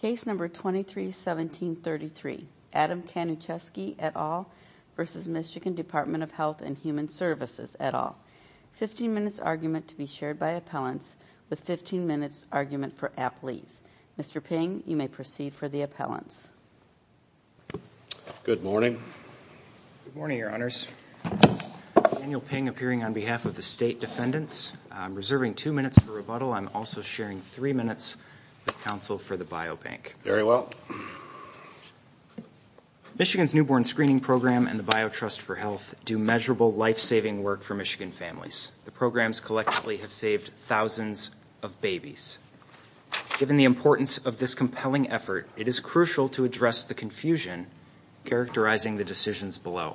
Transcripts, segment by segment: Case number 231733 Adam Kanuszewski et al. v. MI Dept of Health Human Svcs et al. 15 minutes argument to be shared by appellants with 15 minutes argument for appellees. Mr. Ping, you may proceed for the appellants. Good morning. Good morning, your honors. Daniel Ping appearing on behalf of the state defendants. I'm reserving two minutes for rebuttal. I'm also sharing three minutes with counsel for the biobank. Very well. Michigan's newborn screening program and the Biotrust for Health do measurable, life-saving work for Michigan families. The programs collectively have saved thousands of babies. Given the importance of this compelling effort, it is crucial to address the confusion characterizing the decisions below.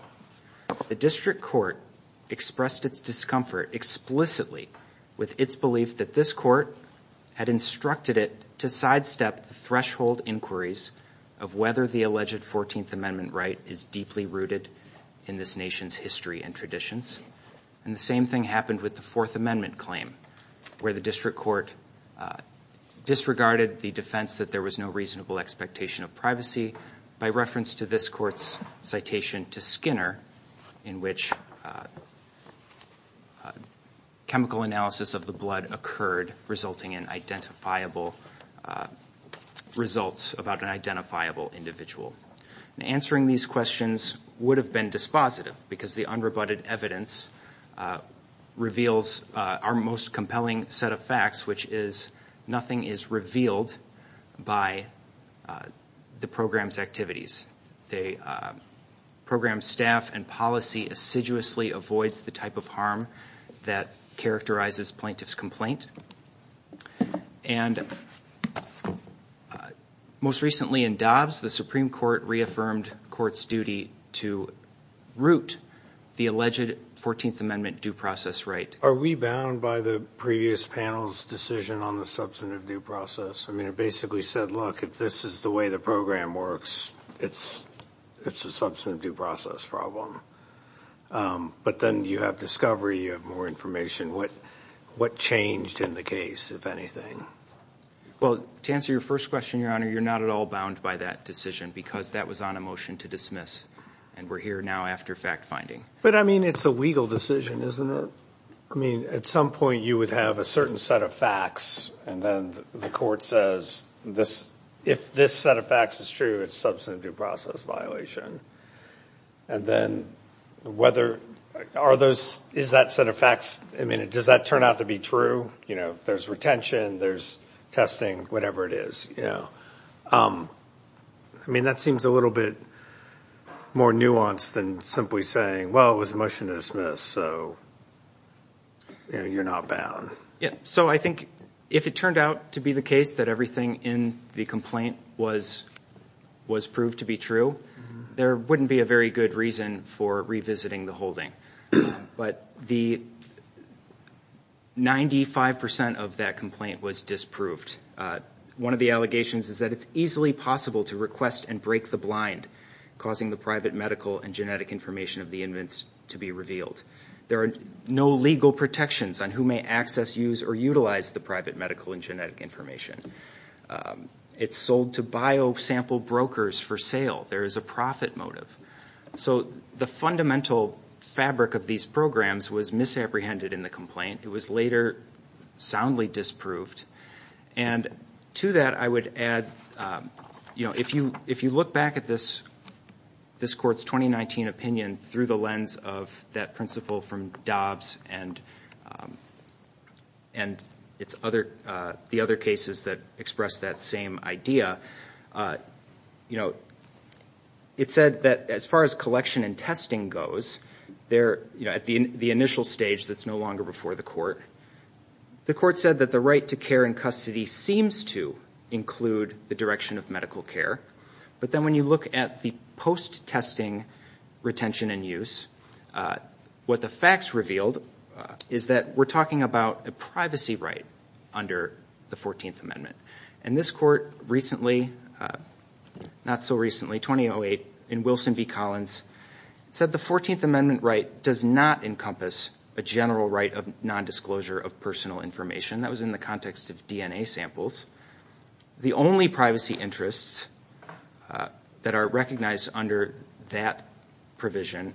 The district court expressed its discomfort explicitly with its belief that this court had instructed it to sidestep threshold inquiries of whether the alleged 14th Amendment right is deeply rooted in this nation's history and traditions. And the same thing happened with the Fourth Amendment claim where the district court disregarded the defense that there was no reasonable expectation of privacy by reference to this court's citation to Skinner in which chemical analysis of the blood occurred resulting in identifiable results about an identifiable individual. Answering these questions would have been dispositive because the unrebutted evidence reveals our most compelling set of facts, which is nothing is revealed by the program's activities. The program's staff and policy assiduously avoids the type of harm that characterizes plaintiff's complaint. And most recently in Dobbs, the Supreme Court reaffirmed court's duty to root the alleged 14th Amendment due process right. Are we bound by the previous panel's decision on the substantive due process? I mean, it basically said, look, if this is the way the program works, it's a substantive due process problem. But then you have discovery, you have more information. What changed in the case, if anything? Well, to answer your first question, Your Honor, you're not at all bound by that decision because that was on a motion to dismiss. And we're here now after fact finding. But I mean, it's a legal decision, isn't it? I mean, at some point you would have a certain set of facts. And then the court says this if this set of facts is true, it's substantive due process violation. And then whether are those is that set of facts? I mean, does that turn out to be true? You know, there's retention, there's testing, whatever it is. I mean, that seems a little bit more nuanced than simply saying, well, it was a motion to dismiss, so you're not bound. So I think if it turned out to be the case that everything in the complaint was proved to be true, there wouldn't be a very good reason for revisiting the holding. But the 95 percent of that complaint was disproved. One of the allegations is that it's easily possible to request and break the blind, causing the private medical and genetic information of the inmates to be revealed. There are no legal protections on who may access, use, or utilize the private medical and genetic information. It's sold to bio-sample brokers for sale. There is a profit motive. So the fundamental fabric of these programs was misapprehended in the complaint. It was later soundly disproved. And to that, I would add, you know, if you look back at this court's 2019 opinion through the lens of that principle from Dobbs and the other cases that express that same idea, you know, it said that as far as collection and testing goes, you know, at the initial stage that's no longer before the court, the court said that the right to care and custody seems to include the direction of medical care. But then when you look at the post-testing retention and use, what the facts revealed is that we're talking about a privacy right under the 14th Amendment. And this court recently, not so recently, 2008, in Wilson v. Collins, said the 14th Amendment right does not encompass a general right of nondisclosure of personal information. That was in the context of DNA samples. The only privacy interests that are recognized under that provision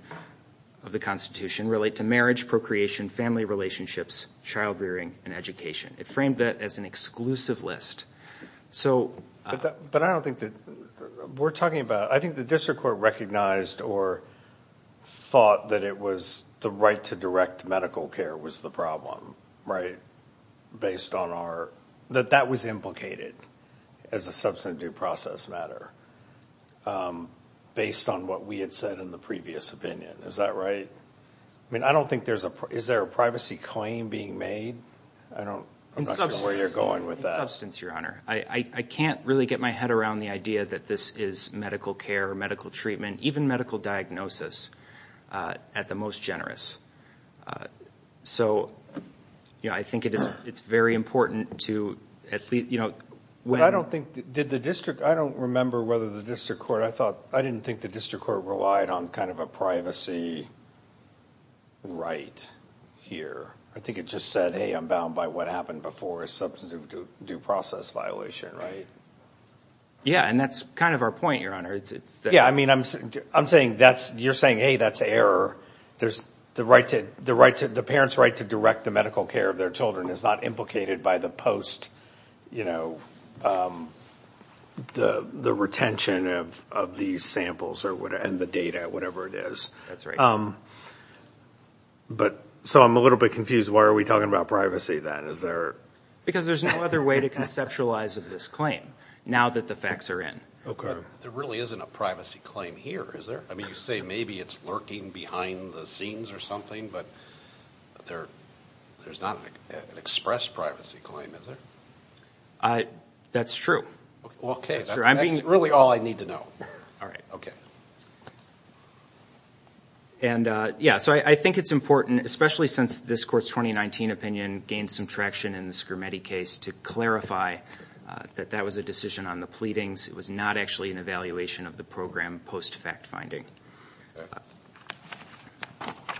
of the Constitution relate to marriage, procreation, family relationships, child rearing, and education. It framed that as an exclusive list. But I don't think that we're talking about, I think the district court recognized or thought that it was the right to direct medical care was the problem, right, based on our, that that was implicated as a substantive due process matter based on what we had said in the previous opinion. Is that right? I mean, I don't think there's a, is there a privacy claim being made? I don't know where you're going with that. In substance, Your Honor. I can't really get my head around the idea that this is medical care or medical treatment, even medical diagnosis, at the most generous. So, you know, I think it's very important to at least, you know. But I don't think, did the district, I don't remember whether the district court, I thought, I didn't think the district court relied on kind of a privacy right here. I think it just said, hey, I'm bound by what happened before, a substantive due process violation, right? Yeah, and that's kind of our point, Your Honor. Yeah, I mean, I'm saying that's, you're saying, hey, that's error. There's the right to, the parents' right to direct the medical care of their children is not implicated by the post, you know, the retention of these samples and the data, whatever it is. That's right. But, so I'm a little bit confused. Why are we talking about privacy then? Is there? Because there's no other way to conceptualize this claim now that the facts are in. Okay. There really isn't a privacy claim here, is there? I mean, you say maybe it's lurking behind the scenes or something, but there's not an express privacy claim, is there? That's true. Okay. That's really all I need to know. All right. Okay. And, yeah, so I think it's important, especially since this Court's 2019 opinion gained some traction in the Schermetti case, to clarify that that was a decision on the pleadings. It was not actually an evaluation of the program post-fact finding. Okay.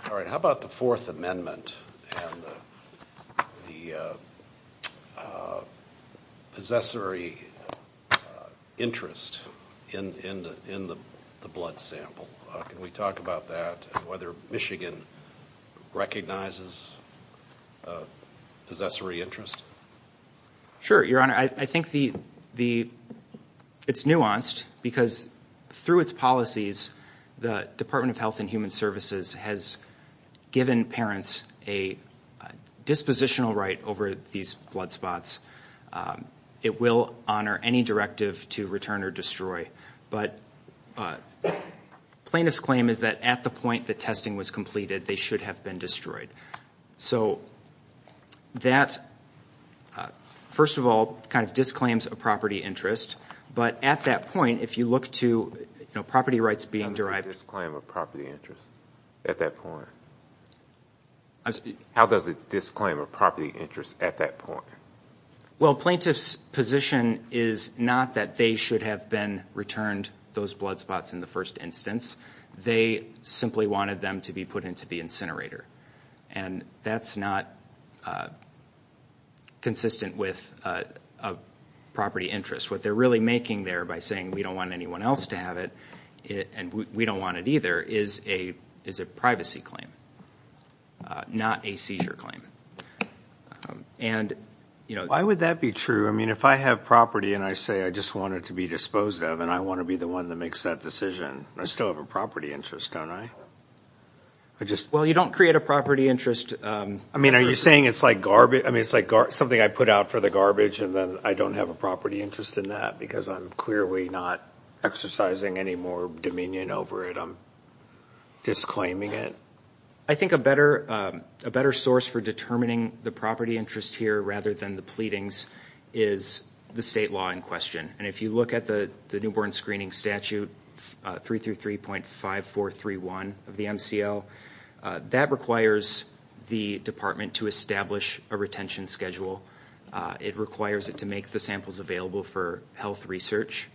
Can we talk about that and whether Michigan recognizes a possessory interest? Sure, Your Honor. I think it's nuanced because through its policies, the Department of Health and Human Services has given parents a dispositional right over these blood spots. It will honor any directive to return or destroy. But plaintiff's claim is that at the point the testing was completed, they should have been destroyed. So that, first of all, kind of disclaims a property interest. But at that point, if you look to property rights being derived. How does it disclaim a property interest at that point? How does it disclaim a property interest at that point? Well, plaintiff's position is not that they should have been returned those blood spots in the first instance. They simply wanted them to be put into the incinerator. And that's not consistent with a property interest. What they're really making there by saying, we don't want anyone else to have it and we don't want it either, is a privacy claim, not a seizure claim. Why would that be true? I mean, if I have property and I say I just want it to be disposed of and I want to be the one that makes that decision, I still have a property interest, don't I? Well, you don't create a property interest. I mean, are you saying it's like something I put out for the garbage and then I don't have a property interest in that because I'm clearly not exercising any more dominion over it? I'm disclaiming it. I think a better source for determining the property interest here rather than the pleadings is the state law in question. And if you look at the newborn screening statute, 333.5431 of the MCL, that requires the department to establish a retention schedule. It requires it to make the samples available for health research.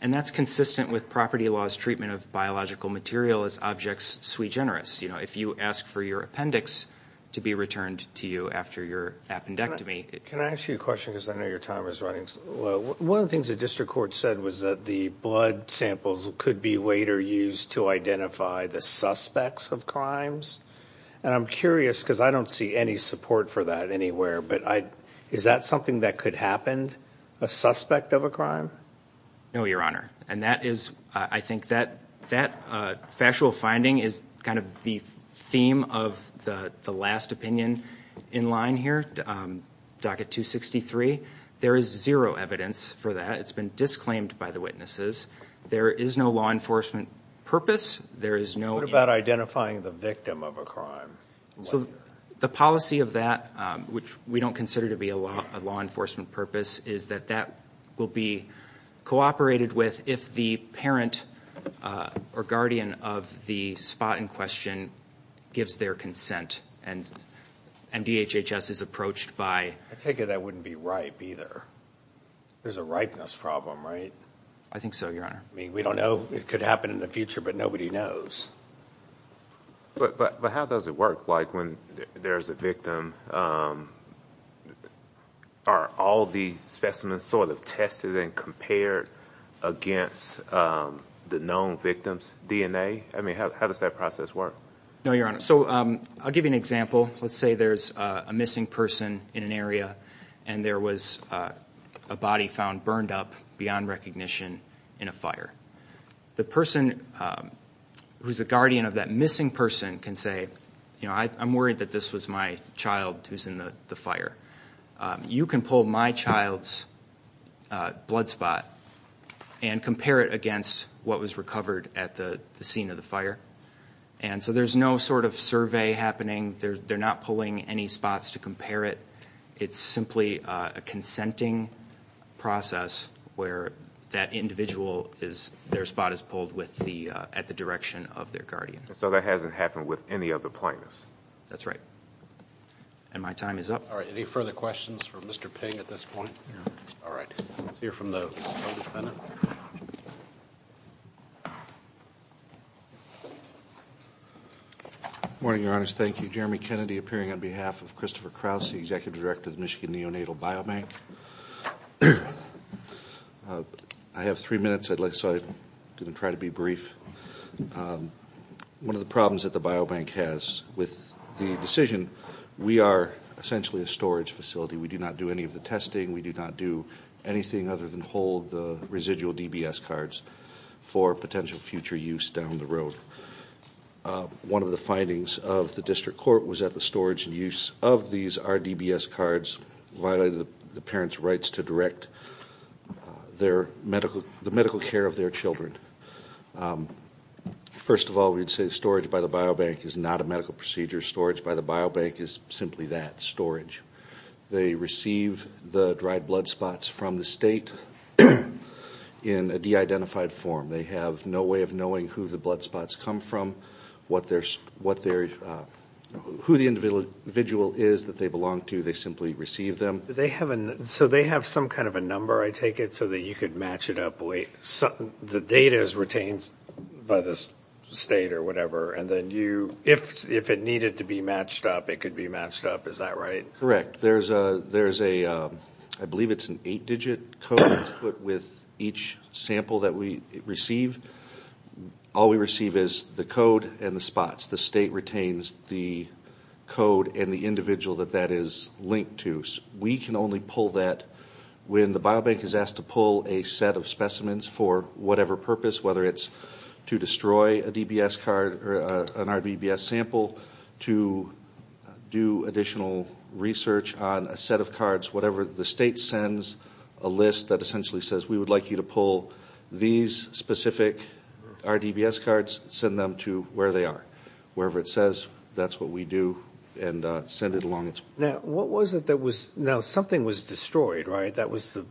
And that's consistent with property laws treatment of biological material as objects sui generis. If you ask for your appendix to be returned to you after your appendectomy. Can I ask you a question because I know your time is running low? One of the things the district court said was that the blood samples could be later used to identify the suspects of crimes. And I'm curious because I don't see any support for that anywhere. But is that something that could happen, a suspect of a crime? No, Your Honor. And I think that factual finding is kind of the theme of the last opinion in line here, docket 263. There is zero evidence for that. It's been disclaimed by the witnesses. There is no law enforcement purpose. What about identifying the victim of a crime? So the policy of that, which we don't consider to be a law enforcement purpose, is that that will be cooperated with if the parent or guardian of the spot in question gives their consent. And MDHHS is approached by. I take it that wouldn't be ripe either. There's a ripeness problem, right? I think so, Your Honor. I mean, we don't know. It could happen in the future, but nobody knows. But how does it work? Like when there's a victim, are all these specimens sort of tested and compared against the known victim's DNA? I mean, how does that process work? No, Your Honor. So I'll give you an example. Let's say there's a missing person in an area and there was a body found burned up beyond recognition in a fire. The person who's a guardian of that missing person can say, you know, I'm worried that this was my child who's in the fire. You can pull my child's blood spot and compare it against what was recovered at the scene of the fire. And so there's no sort of survey happening. They're not pulling any spots to compare it. It's simply a consenting process where that individual, their spot is pulled at the direction of their guardian. So that hasn't happened with any other plaintiffs? That's right. And my time is up. All right. Any further questions for Mr. Ping at this point? All right. Let's hear from the defendant. Good morning, Your Honors. Thank you. Jeremy Kennedy appearing on behalf of Christopher Krause, the Executive Director of the Michigan Neonatal Biobank. I have three minutes, so I'm going to try to be brief. One of the problems that the biobank has with the decision, we are essentially a storage facility. We do not do any of the testing. We do not do anything other than hold the residual DBS cards for potential future use down the road. One of the findings of the district court was that the storage and use of these RDBS cards violated the parents' rights to direct the medical care of their children. First of all, we'd say storage by the biobank is not a medical procedure. Storage by the biobank is simply that, storage. They receive the dried blood spots from the state in a de-identified form. They have no way of knowing who the blood spots come from, who the individual is that they belong to. They simply receive them. So they have some kind of a number, I take it, so that you could match it up. The data is retained by the state or whatever, and then if it needed to be matched up, it could be matched up. Is that right? Correct. There's a, I believe it's an eight-digit code that's put with each sample that we receive. All we receive is the code and the spots. The state retains the code and the individual that that is linked to. We can only pull that when the biobank is asked to pull a set of specimens for whatever purpose, whether it's to destroy a DBS card or an RDBS sample, to do additional research on a set of cards, whatever the state sends a list that essentially says we would like you to pull these specific RDBS cards, send them to where they are, wherever it says that's what we do, and send it along. Now, what was it that was, now something was destroyed, right? There was a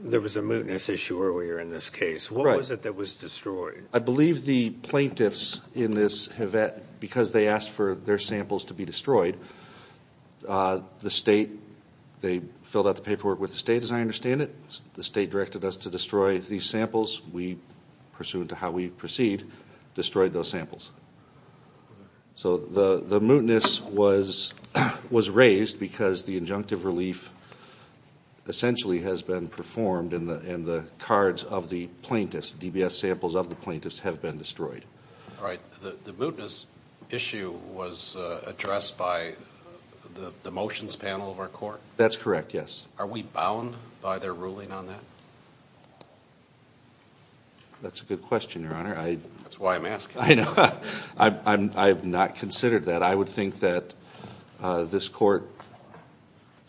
mootness issue earlier in this case. What was it that was destroyed? I believe the plaintiffs in this have, because they asked for their samples to be destroyed, the state, they filled out the paperwork with the state, as I understand it. The state directed us to destroy these samples. We, pursuant to how we proceed, destroyed those samples. So the mootness was raised because the injunctive relief essentially has been performed and the cards of the plaintiffs, DBS samples of the plaintiffs, have been destroyed. All right. The mootness issue was addressed by the motions panel of our court? That's correct, yes. Are we bound by their ruling on that? That's a good question, Your Honor. That's why I'm asking. I know. I have not considered that. I would think that this court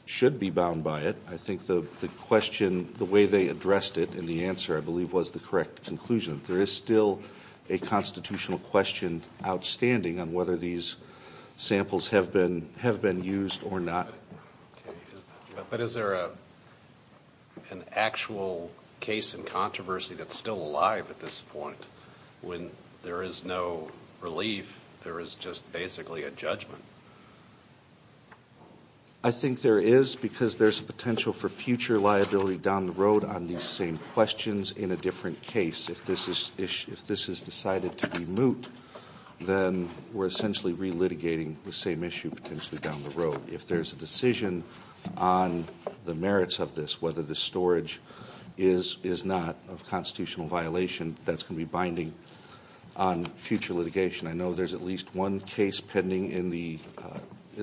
should be bound by it. I think the question, the way they addressed it in the answer, I believe, was the correct conclusion. There is still a constitutional question outstanding on whether these samples have been used or not. But is there an actual case in controversy that's still alive at this point when there is no relief, there is just basically a judgment? I think there is because there's potential for future liability down the road on these same questions in a different case. If this is decided to be moot, then we're essentially relitigating the same issue potentially down the road. If there's a decision on the merits of this, whether the storage is not a constitutional violation, that's going to be binding on future litigation. I know there's at least one case pending in the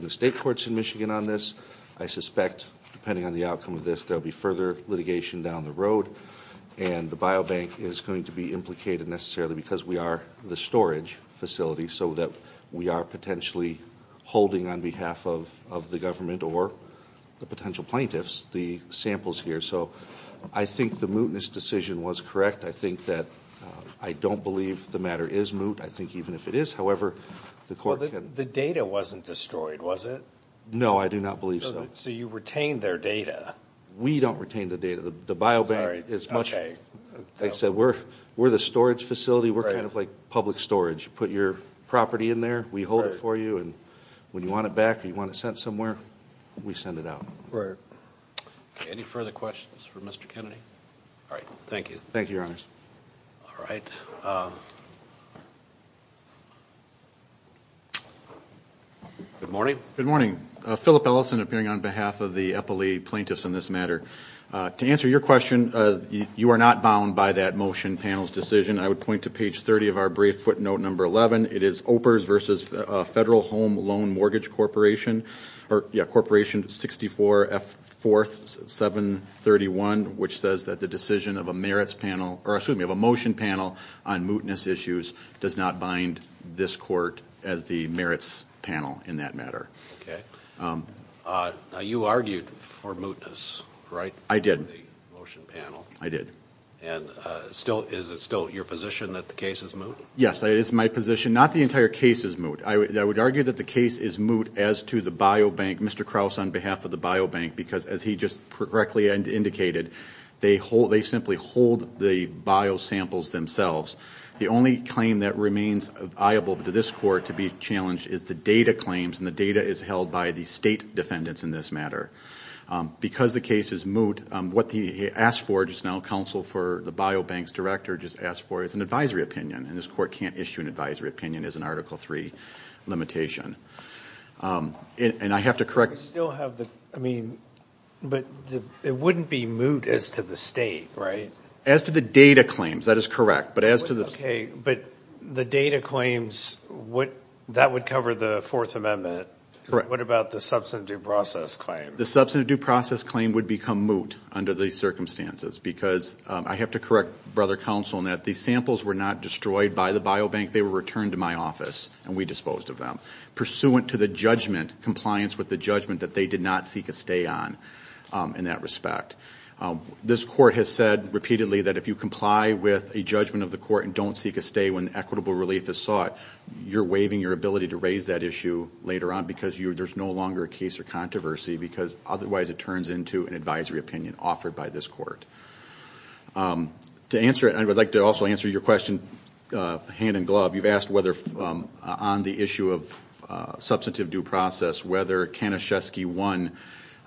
state courts in Michigan on this. I suspect, depending on the outcome of this, there will be further litigation down the road, and the biobank is going to be implicated necessarily because we are the storage facility, so that we are potentially holding on behalf of the government or the potential plaintiffs the samples here. So I think the mootness decision was correct. I think that I don't believe the matter is moot. I think even if it is, however, the court can- Well, the data wasn't destroyed, was it? No, I do not believe so. So you retained their data. We don't retain the data. The biobank is much- Sorry, okay. Like I said, we're the storage facility. We're kind of like public storage. You put your property in there, we hold it for you, and when you want it back or you want it sent somewhere, we send it out. Right. Okay, any further questions for Mr. Kennedy? All right, thank you. All right. Good morning. Good morning. Philip Ellison, appearing on behalf of the Eppley plaintiffs in this matter. To answer your question, you are not bound by that motion panel's decision. I would point to page 30 of our brief footnote number 11. It is OPRS versus Federal Home Loan Mortgage Corporation, or, yeah, Corporation 64F4731, which says that the decision of a merits panel- or, excuse me, of a motion panel on mootness issues does not bind this court as the merits panel in that matter. Okay. Now, you argued for mootness, right? I did. The motion panel. I did. And is it still your position that the case is moot? Yes. It is my position. Not the entire case is moot. I would argue that the case is moot as to the biobank, Mr. Krause on behalf of the biobank, because as he just correctly indicated, they simply hold the biosamples themselves. The only claim that remains viable to this court to be challenged is the data claims, and the data is held by the state defendants in this matter. Because the case is moot, and what the counsel for the biobanks director just asked for is an advisory opinion, and this court can't issue an advisory opinion as an Article III limitation. And I have to correct- But it wouldn't be moot as to the state, right? As to the data claims, that is correct, but as to the- Okay, but the data claims, that would cover the Fourth Amendment. Correct. What about the substantive due process claim? The substantive due process claim would become moot under these circumstances, because I have to correct Brother Counsel in that these samples were not destroyed by the biobank. They were returned to my office, and we disposed of them, pursuant to the judgment, compliance with the judgment that they did not seek a stay on in that respect. This court has said repeatedly that if you comply with a judgment of the court and don't seek a stay when equitable relief is sought, you're waiving your ability to raise that issue later on because there's no longer a case or controversy because otherwise it turns into an advisory opinion offered by this court. To answer it, I would like to also answer your question hand-in-glove. You've asked whether on the issue of substantive due process, whether Kanischewski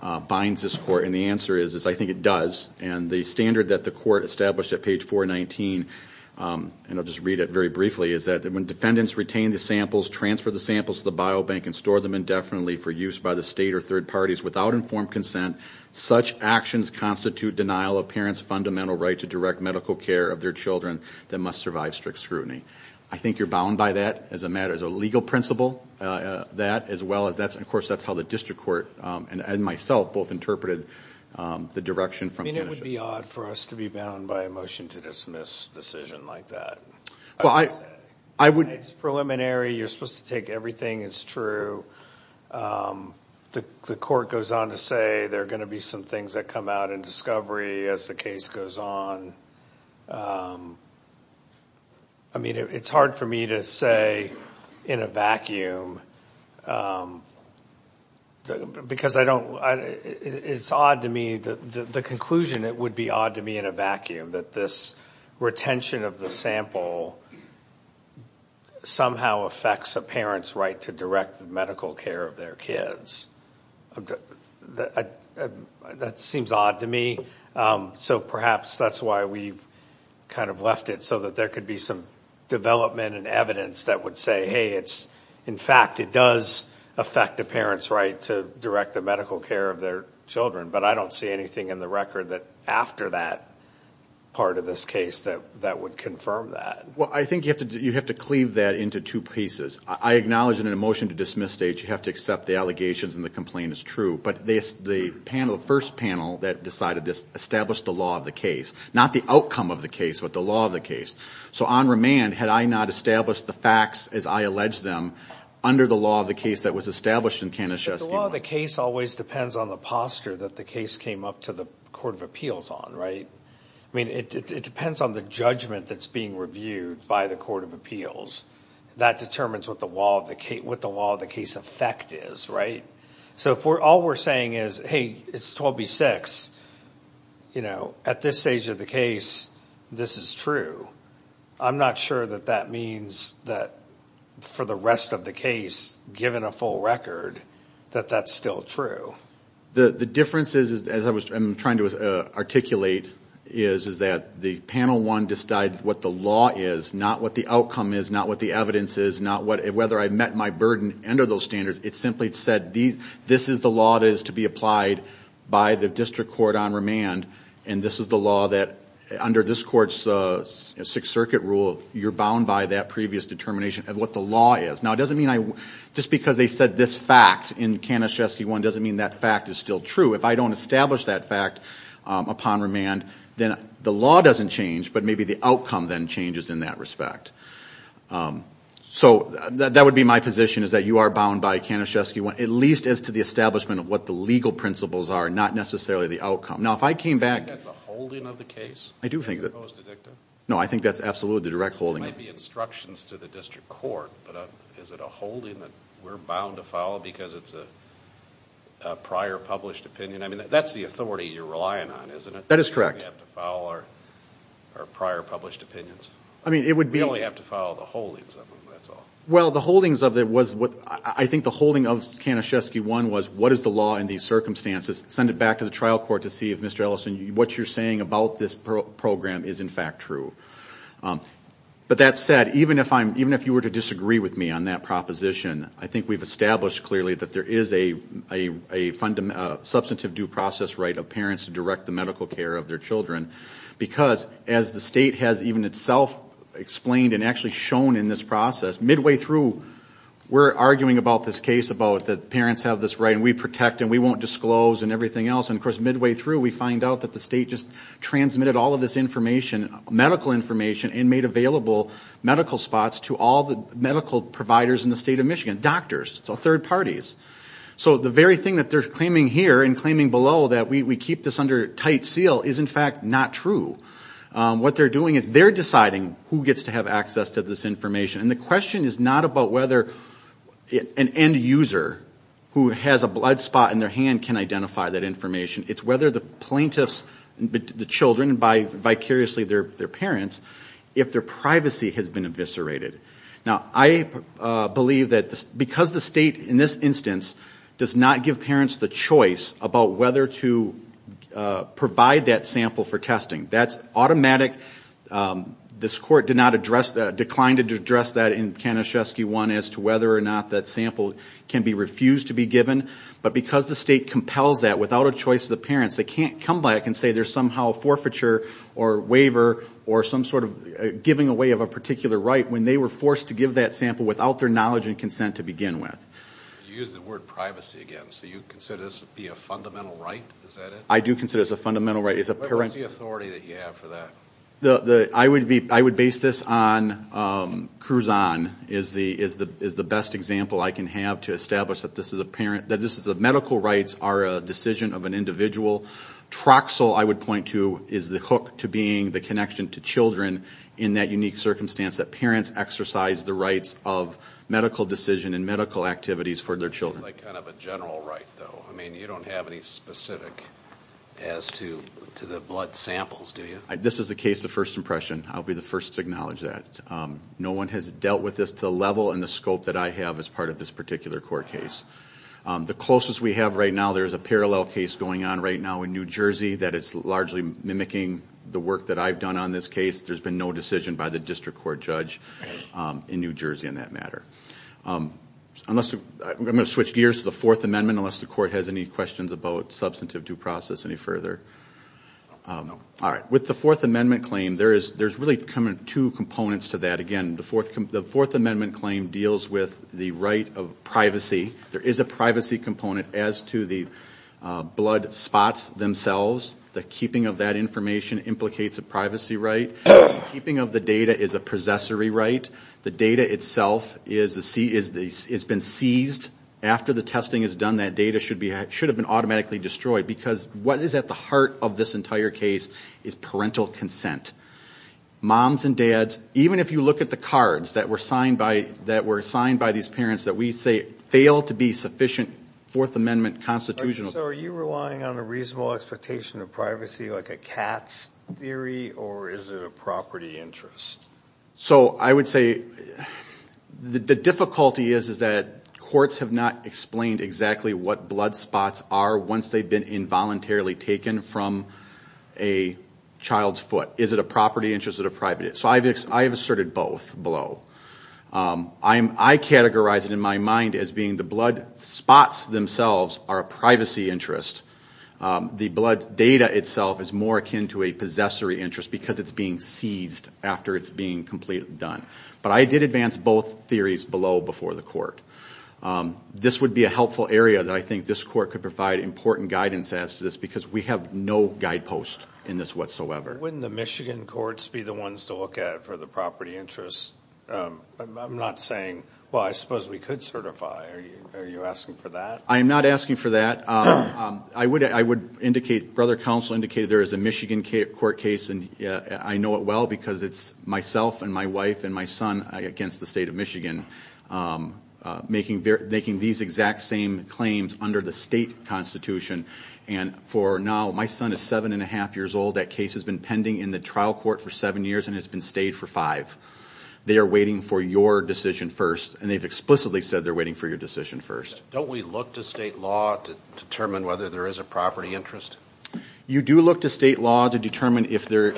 I binds this court, and the answer is I think it does. And the standard that the court established at page 419, and I'll just read it very briefly, is that when defendants retain the samples, transfer the samples to the biobank, and store them indefinitely for use by the state or third parties without informed consent, such actions constitute denial of parents' fundamental right to direct medical care of their children that must survive strict scrutiny. I think you're bound by that as a matter, as a legal principle, that, as well as that's, of course, that's how the district court and myself both interpreted the direction from Kanischewski. I mean, it would be odd for us to be bound by a motion to dismiss a decision like that. It's preliminary. You're supposed to take everything as true. The court goes on to say there are going to be some things that come out in discovery as the case goes on. I mean, it's hard for me to say in a vacuum because I don't – it's odd to me. The conclusion, it would be odd to me in a vacuum that this retention of the sample somehow affects a parent's right to direct the medical care of their kids. That seems odd to me, so perhaps that's why we kind of left it, so that there could be some development and evidence that would say, hey, it's – in fact, it does affect a parent's right to direct the medical care of their children, but I don't see anything in the record that after that part of this case that would confirm that. Well, I think you have to cleave that into two pieces. I acknowledge in a motion to dismiss stage you have to accept the allegations and the complaint is true, but the panel, the first panel that decided this established the law of the case, not the outcome of the case, but the law of the case. So on remand, had I not established the facts as I alleged them under the law of the case that was established in Kanischewski. The law of the case always depends on the posture that the case came up to the Court of Appeals on, right? I mean, it depends on the judgment that's being reviewed by the Court of Appeals. That determines what the law of the case effect is, right? So if all we're saying is, hey, it's 12B6, you know, at this stage of the case, this is true. I'm not sure that that means that for the rest of the case, given a full record, that that's still true. The difference is, as I'm trying to articulate, is that the panel one decided what the law is, not what the outcome is, not what the evidence is, not whether I met my burden under those standards. It simply said this is the law that is to be applied by the district court on remand, and this is the law that, under this court's Sixth Circuit rule, you're bound by that previous determination of what the law is. Now, it doesn't mean I – just because they said this fact in Kanischewski 1 doesn't mean that fact is still true. If I don't establish that fact upon remand, then the law doesn't change, but maybe the outcome then changes in that respect. So that would be my position, is that you are bound by Kanischewski 1, at least as to the establishment of what the legal principles are, not necessarily the outcome. Now, if I came back – Do you think that's a holding of the case? I do think that – Opposed to dicta? No, I think that's absolutely the direct holding. It might be instructions to the district court, but is it a holding that we're bound to follow because it's a prior published opinion? I mean, that's the authority you're relying on, isn't it? That is correct. We have to follow our prior published opinions. I mean, it would be – We only have to follow the holdings of them, that's all. Well, the holdings of it was what – I think the holding of Kanischewski 1 was, what is the law in these circumstances? Send it back to the trial court to see if, Mr. Ellison, what you're saying about this program is in fact true. But that said, even if you were to disagree with me on that proposition, I think we've established clearly that there is a substantive due process right of parents to direct the medical care of their children because, as the state has even itself explained and actually shown in this process, midway through we're arguing about this case about that parents have this right and we protect and we won't disclose and everything else. And, of course, midway through we find out that the state just transmitted all of this information, medical information, and made available medical spots to all the medical providers in the state of Michigan, doctors, so third parties. So the very thing that they're claiming here and claiming below that we keep this under tight seal is in fact not true. What they're doing is they're deciding who gets to have access to this information. And the question is not about whether an end user who has a blood spot in their hand can identify that information. It's whether the plaintiffs, the children, vicariously their parents, if their privacy has been eviscerated. Now, I believe that because the state in this instance does not give parents the choice about whether to provide that sample for testing, that's automatic. This court did not address that, declined to address that in Kanischewski 1 as to whether or not that sample can be refused to be given. But because the state compels that without a choice of the parents, they can't come back and say there's somehow forfeiture or waiver or some sort of giving away of a particular right when they were forced to give that sample without their knowledge and consent to begin with. You used the word privacy again. So you consider this to be a fundamental right? Is that it? I do consider this a fundamental right. What is the authority that you have for that? I would base this on Cruzan is the best example I can have to establish that this is a parent, that this is a medical rights are a decision of an individual. Troxel, I would point to, is the hook to being the connection to children in that unique circumstance that parents exercise the rights of medical decision and medical activities for their children. This is like kind of a general right, though. I mean, you don't have any specific as to the blood samples, do you? This is a case of first impression. I'll be the first to acknowledge that. No one has dealt with this to the level and the scope that I have as part of this particular court case. The closest we have right now, there is a parallel case going on right now in New Jersey that is largely mimicking the work that I've done on this case. There's been no decision by the district court judge in New Jersey in that matter. I'm going to switch gears to the Fourth Amendment unless the court has any questions about substantive due process any further. All right. With the Fourth Amendment claim, there's really two components to that. Again, the Fourth Amendment claim deals with the right of privacy. There is a privacy component as to the blood spots themselves. The keeping of that information implicates a privacy right. The keeping of the data is a possessory right. The data itself has been seized. After the testing is done, that data should have been automatically destroyed because what is at the heart of this entire case is parental consent. Moms and dads, even if you look at the cards that were signed by these parents that we say fail to be sufficient Fourth Amendment constitutional. So are you relying on a reasonable expectation of privacy like a cat's theory or is it a property interest? I would say the difficulty is that courts have not explained exactly what blood spots are once they've been involuntarily taken from a child's foot. Is it a property interest or a private interest? I have asserted both below. I categorize it in my mind as being the blood spots themselves are a privacy interest. The blood data itself is more akin to a possessory interest because it's being seized after it's being completely done. But I did advance both theories below before the court. This would be a helpful area that I think this court could provide important guidance as to this because we have no guidepost in this whatsoever. Wouldn't the Michigan courts be the ones to look at for the property interest? I'm not saying, well, I suppose we could certify. Are you asking for that? I am not asking for that. I would indicate, Brother Counsel indicated there is a Michigan court case, and I know it well because it's myself and my wife and my son against the state of Michigan making these exact same claims under the state constitution. And for now, my son is 7-1⁄2 years old. That case has been pending in the trial court for seven years and has been stayed for five. They are waiting for your decision first, and they've explicitly said they're waiting for your decision first. Don't we look to state law to determine whether there is a property interest? You do look to state law to determine if there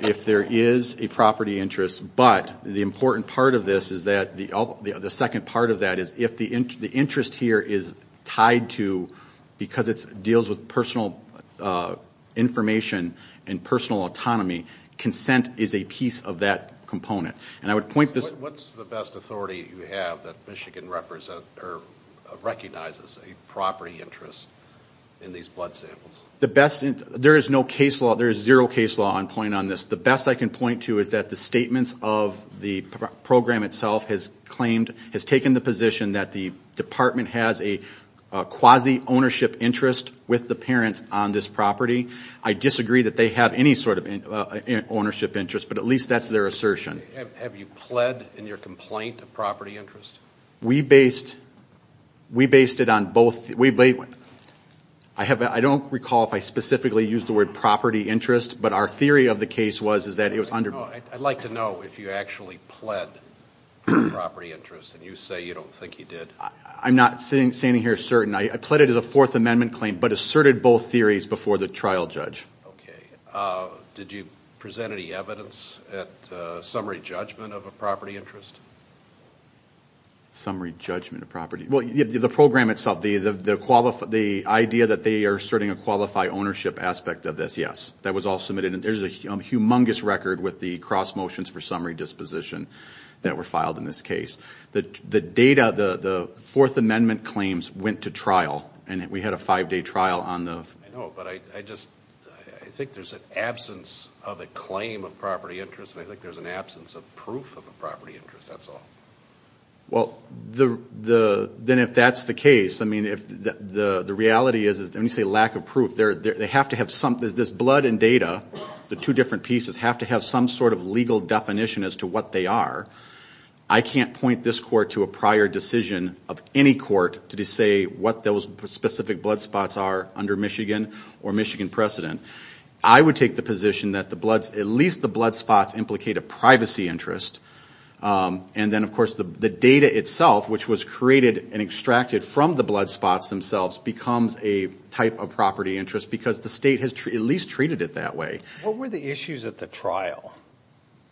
is a property interest, but the important part of this is that the second part of that is if the interest here is tied to, because it deals with personal information and personal autonomy, consent is a piece of that component. What's the best authority you have that Michigan recognizes a property interest in these blood samples? There is no case law. There is zero case law on point on this. The best I can point to is that the statements of the program itself has claimed, has taken the position that the department has a quasi-ownership interest with the parents on this property. I disagree that they have any sort of ownership interest, but at least that's their assertion. Okay. Have you pled in your complaint a property interest? We based it on both. I don't recall if I specifically used the word property interest, but our theory of the case was that it was under- I'd like to know if you actually pled for a property interest, and you say you don't think you did. I'm not standing here certain. I pled it as a Fourth Amendment claim but asserted both theories before the trial judge. Okay. Did you present any evidence at summary judgment of a property interest? Summary judgment of property? Well, the program itself, the idea that they are asserting a qualify ownership aspect of this, yes. That was all submitted. And there's a humongous record with the cross motions for summary disposition that were filed in this case. The data, the Fourth Amendment claims went to trial, and we had a five-day trial on the- I know, but I just-I think there's an absence of a claim of property interest, and I think there's an absence of proof of a property interest, that's all. Well, then if that's the case, I mean, if the reality is, when you say lack of proof, they have to have some-this blood and data, the two different pieces, have to have some sort of legal definition as to what they are. I can't point this court to a prior decision of any court to say what those specific blood spots are under Michigan or Michigan precedent. I would take the position that at least the blood spots implicate a privacy interest, and then, of course, the data itself, which was created and extracted from the blood spots themselves, becomes a type of property interest because the state has at least treated it that way. What were the issues at the trial?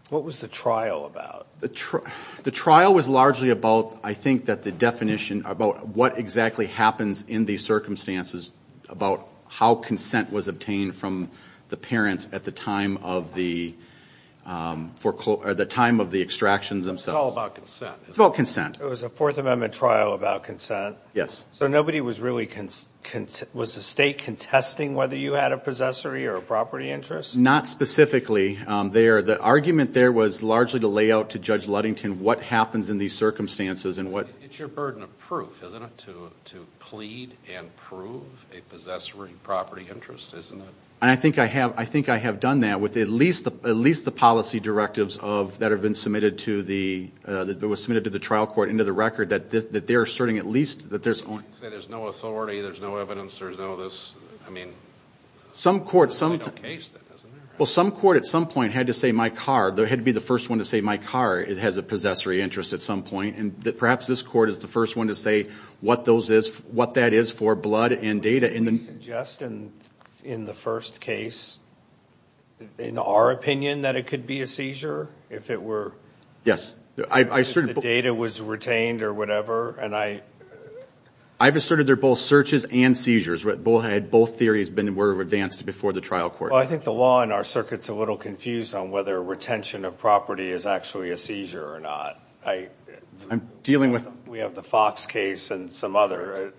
What was the trial about? The trial was largely about, I think, that the definition about what exactly happens in these circumstances, about how consent was obtained from the parents at the time of the extractions themselves. It's all about consent. It's about consent. It was a Fourth Amendment trial about consent. Yes. So nobody was really-was the state contesting whether you had a possessory or a property interest? Not specifically. The argument there was largely to lay out to Judge Ludington what happens in these circumstances and what- It's your burden of proof, isn't it, to plead and prove a possessory property interest, isn't it? I think I have done that with at least the policy directives that have been submitted to the-that were submitted to the trial court into the record that they're asserting at least that there's only- You can't say there's no authority, there's no evidence, there's no this. I mean- Some courts- There's really no case then, isn't there? Well, some court at some point had to say, my car. They had to be the first one to say, my car has a possessory interest at some point. And perhaps this court is the first one to say what those is-what that is for blood and data. Would you suggest in the first case, in our opinion, that it could be a seizure if it were- Yes. If the data was retained or whatever, and I- I've asserted they're both searches and seizures. Both theories were advanced before the trial court. Well, I think the law in our circuit's a little confused on whether retention of property is actually a seizure or not. I- I'm dealing with- We have the Fox case and some other,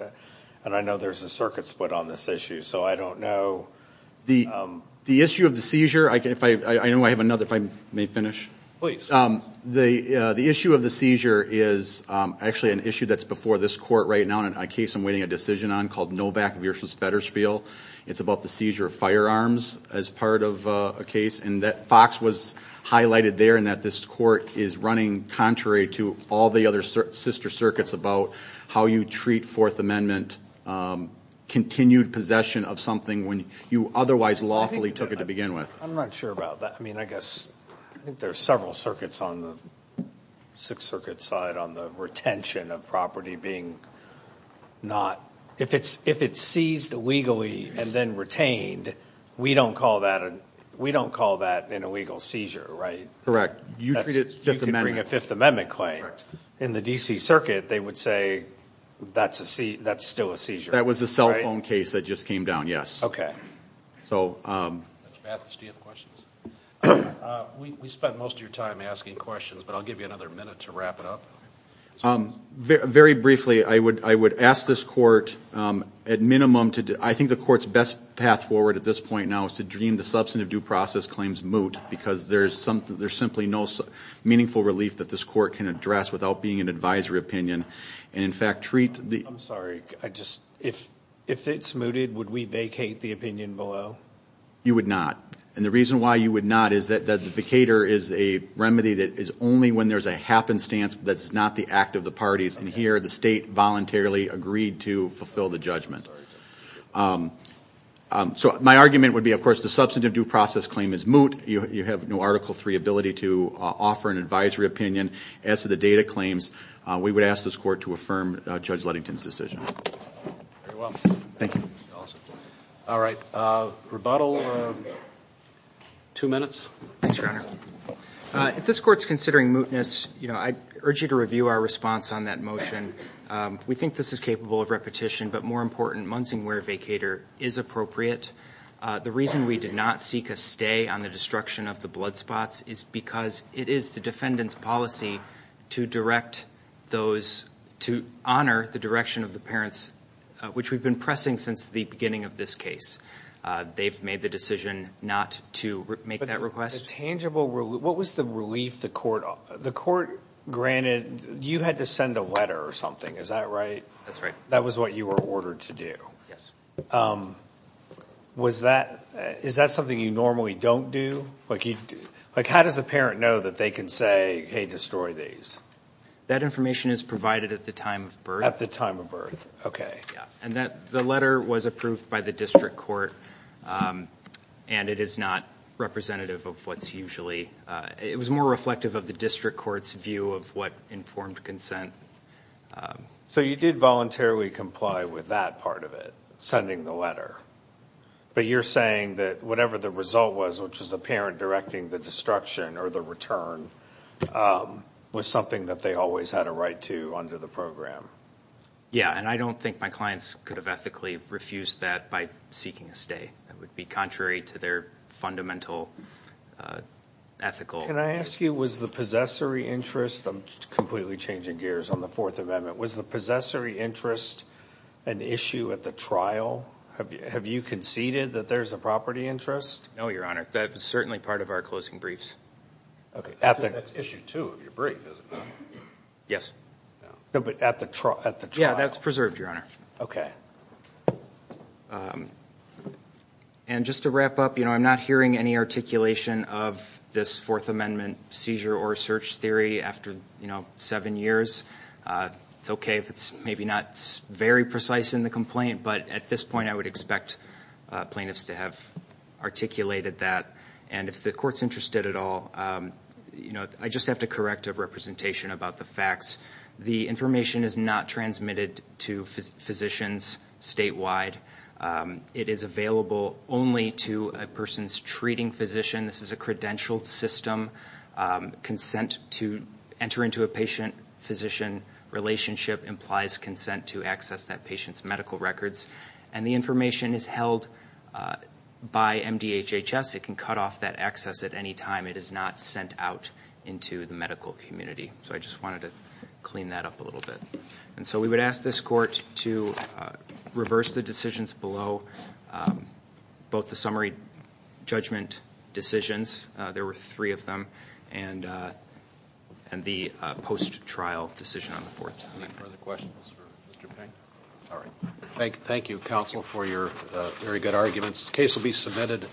and I know there's a circuit split on this issue, so I don't know. The-the issue of the seizure, I can-if I-I know I have another, if I may finish. Please. The-the issue of the seizure is actually an issue that's before this court right now in a case I'm waiting a decision on It's about the seizure of firearms as part of a case. And that Fox was highlighted there in that this court is running contrary to all the other sister circuits about how you treat Fourth Amendment continued possession of something when you otherwise lawfully took it to begin with. I'm not sure about that. I mean, I guess-I think there's several circuits on the Sixth Circuit side on the retention of property being not- If it's-if it's seized legally and then retained, we don't call that a-we don't call that an illegal seizure, right? Correct. You treat it Fifth Amendment- You could bring a Fifth Amendment claim. In the D.C. Circuit, they would say that's a-that's still a seizure, right? That was the cell phone case that just came down, yes. So- Mr. Mathis, do you have questions? We-we spent most of your time asking questions, but I'll give you another minute to wrap it up. Very briefly, I would-I would ask this court at minimum to-I think the court's best path forward at this point now is to dream the substantive due process claims moot because there's something-there's simply no meaningful relief that this court can address without being an advisory opinion and, in fact, treat the- I'm sorry. I just-if-if it's mooted, would we vacate the opinion below? You would not. And the reason why you would not is that the vacator is a remedy that is only when there's a happenstance that's not the act of the parties. And here, the state voluntarily agreed to fulfill the judgment. I'm sorry. So my argument would be, of course, the substantive due process claim is moot. You have no Article III ability to offer an advisory opinion. As to the data claims, we would ask this court to affirm Judge Ludington's decision. Very well. Thank you. All right. Rebuttal. Two minutes. Thanks, Your Honor. If this court's considering mootness, you know, I urge you to review our response on that motion. We think this is capable of repetition, but more important, Munsingwear vacator is appropriate. The reason we did not seek a stay on the destruction of the blood spots is because it is the defendant's policy to direct those-to honor the direction of the parents, which we've been pressing since the beginning of this case. They've made the decision not to make that request. But the tangible-what was the relief the court-the court granted-you had to send a letter or something. Is that right? That's right. That was what you were ordered to do. Yes. Was that-is that something you normally don't do? Like, how does a parent know that they can say, hey, destroy these? That information is provided at the time of birth. At the time of birth. Yeah. And that-the letter was approved by the district court, and it is not representative of what's usually-it was more reflective of the district court's view of what informed consent. So you did voluntarily comply with that part of it, sending the letter. But you're saying that whatever the result was, which was the parent directing the destruction or the return, was something that they always had a right to under the program. Yeah, and I don't think my clients could have ethically refused that by seeking a stay. That would be contrary to their fundamental ethical- Can I ask you, was the possessory interest-I'm completely changing gears on the Fourth Amendment-was the possessory interest an issue at the trial? Have you conceded that there's a property interest? No, Your Honor. That was certainly part of our closing briefs. That's issue two of your brief, is it not? Yes. No, but at the trial- Yeah, that's preserved, Your Honor. Okay. And just to wrap up, you know, I'm not hearing any articulation of this Fourth Amendment seizure or search theory after, you know, seven years. It's okay if it's maybe not very precise in the complaint, but at this point I would expect plaintiffs to have articulated that. And if the Court's interested at all, you know, I just have to correct a representation about the facts. The information is not transmitted to physicians statewide. It is available only to a person's treating physician. This is a credentialed system. Consent to enter into a patient-physician relationship implies consent to access that patient's medical records. And the information is held by MDHHS. It can cut off that access at any time. It is not sent out into the medical community. So I just wanted to clean that up a little bit. And so we would ask this Court to reverse the decisions below, both the summary judgment decisions- there were three of them- and the post-trial decision on the Fourth Amendment. Any further questions for Mr. Payne? All right. Thank you, counsel, for your very good arguments. The case will be submitted.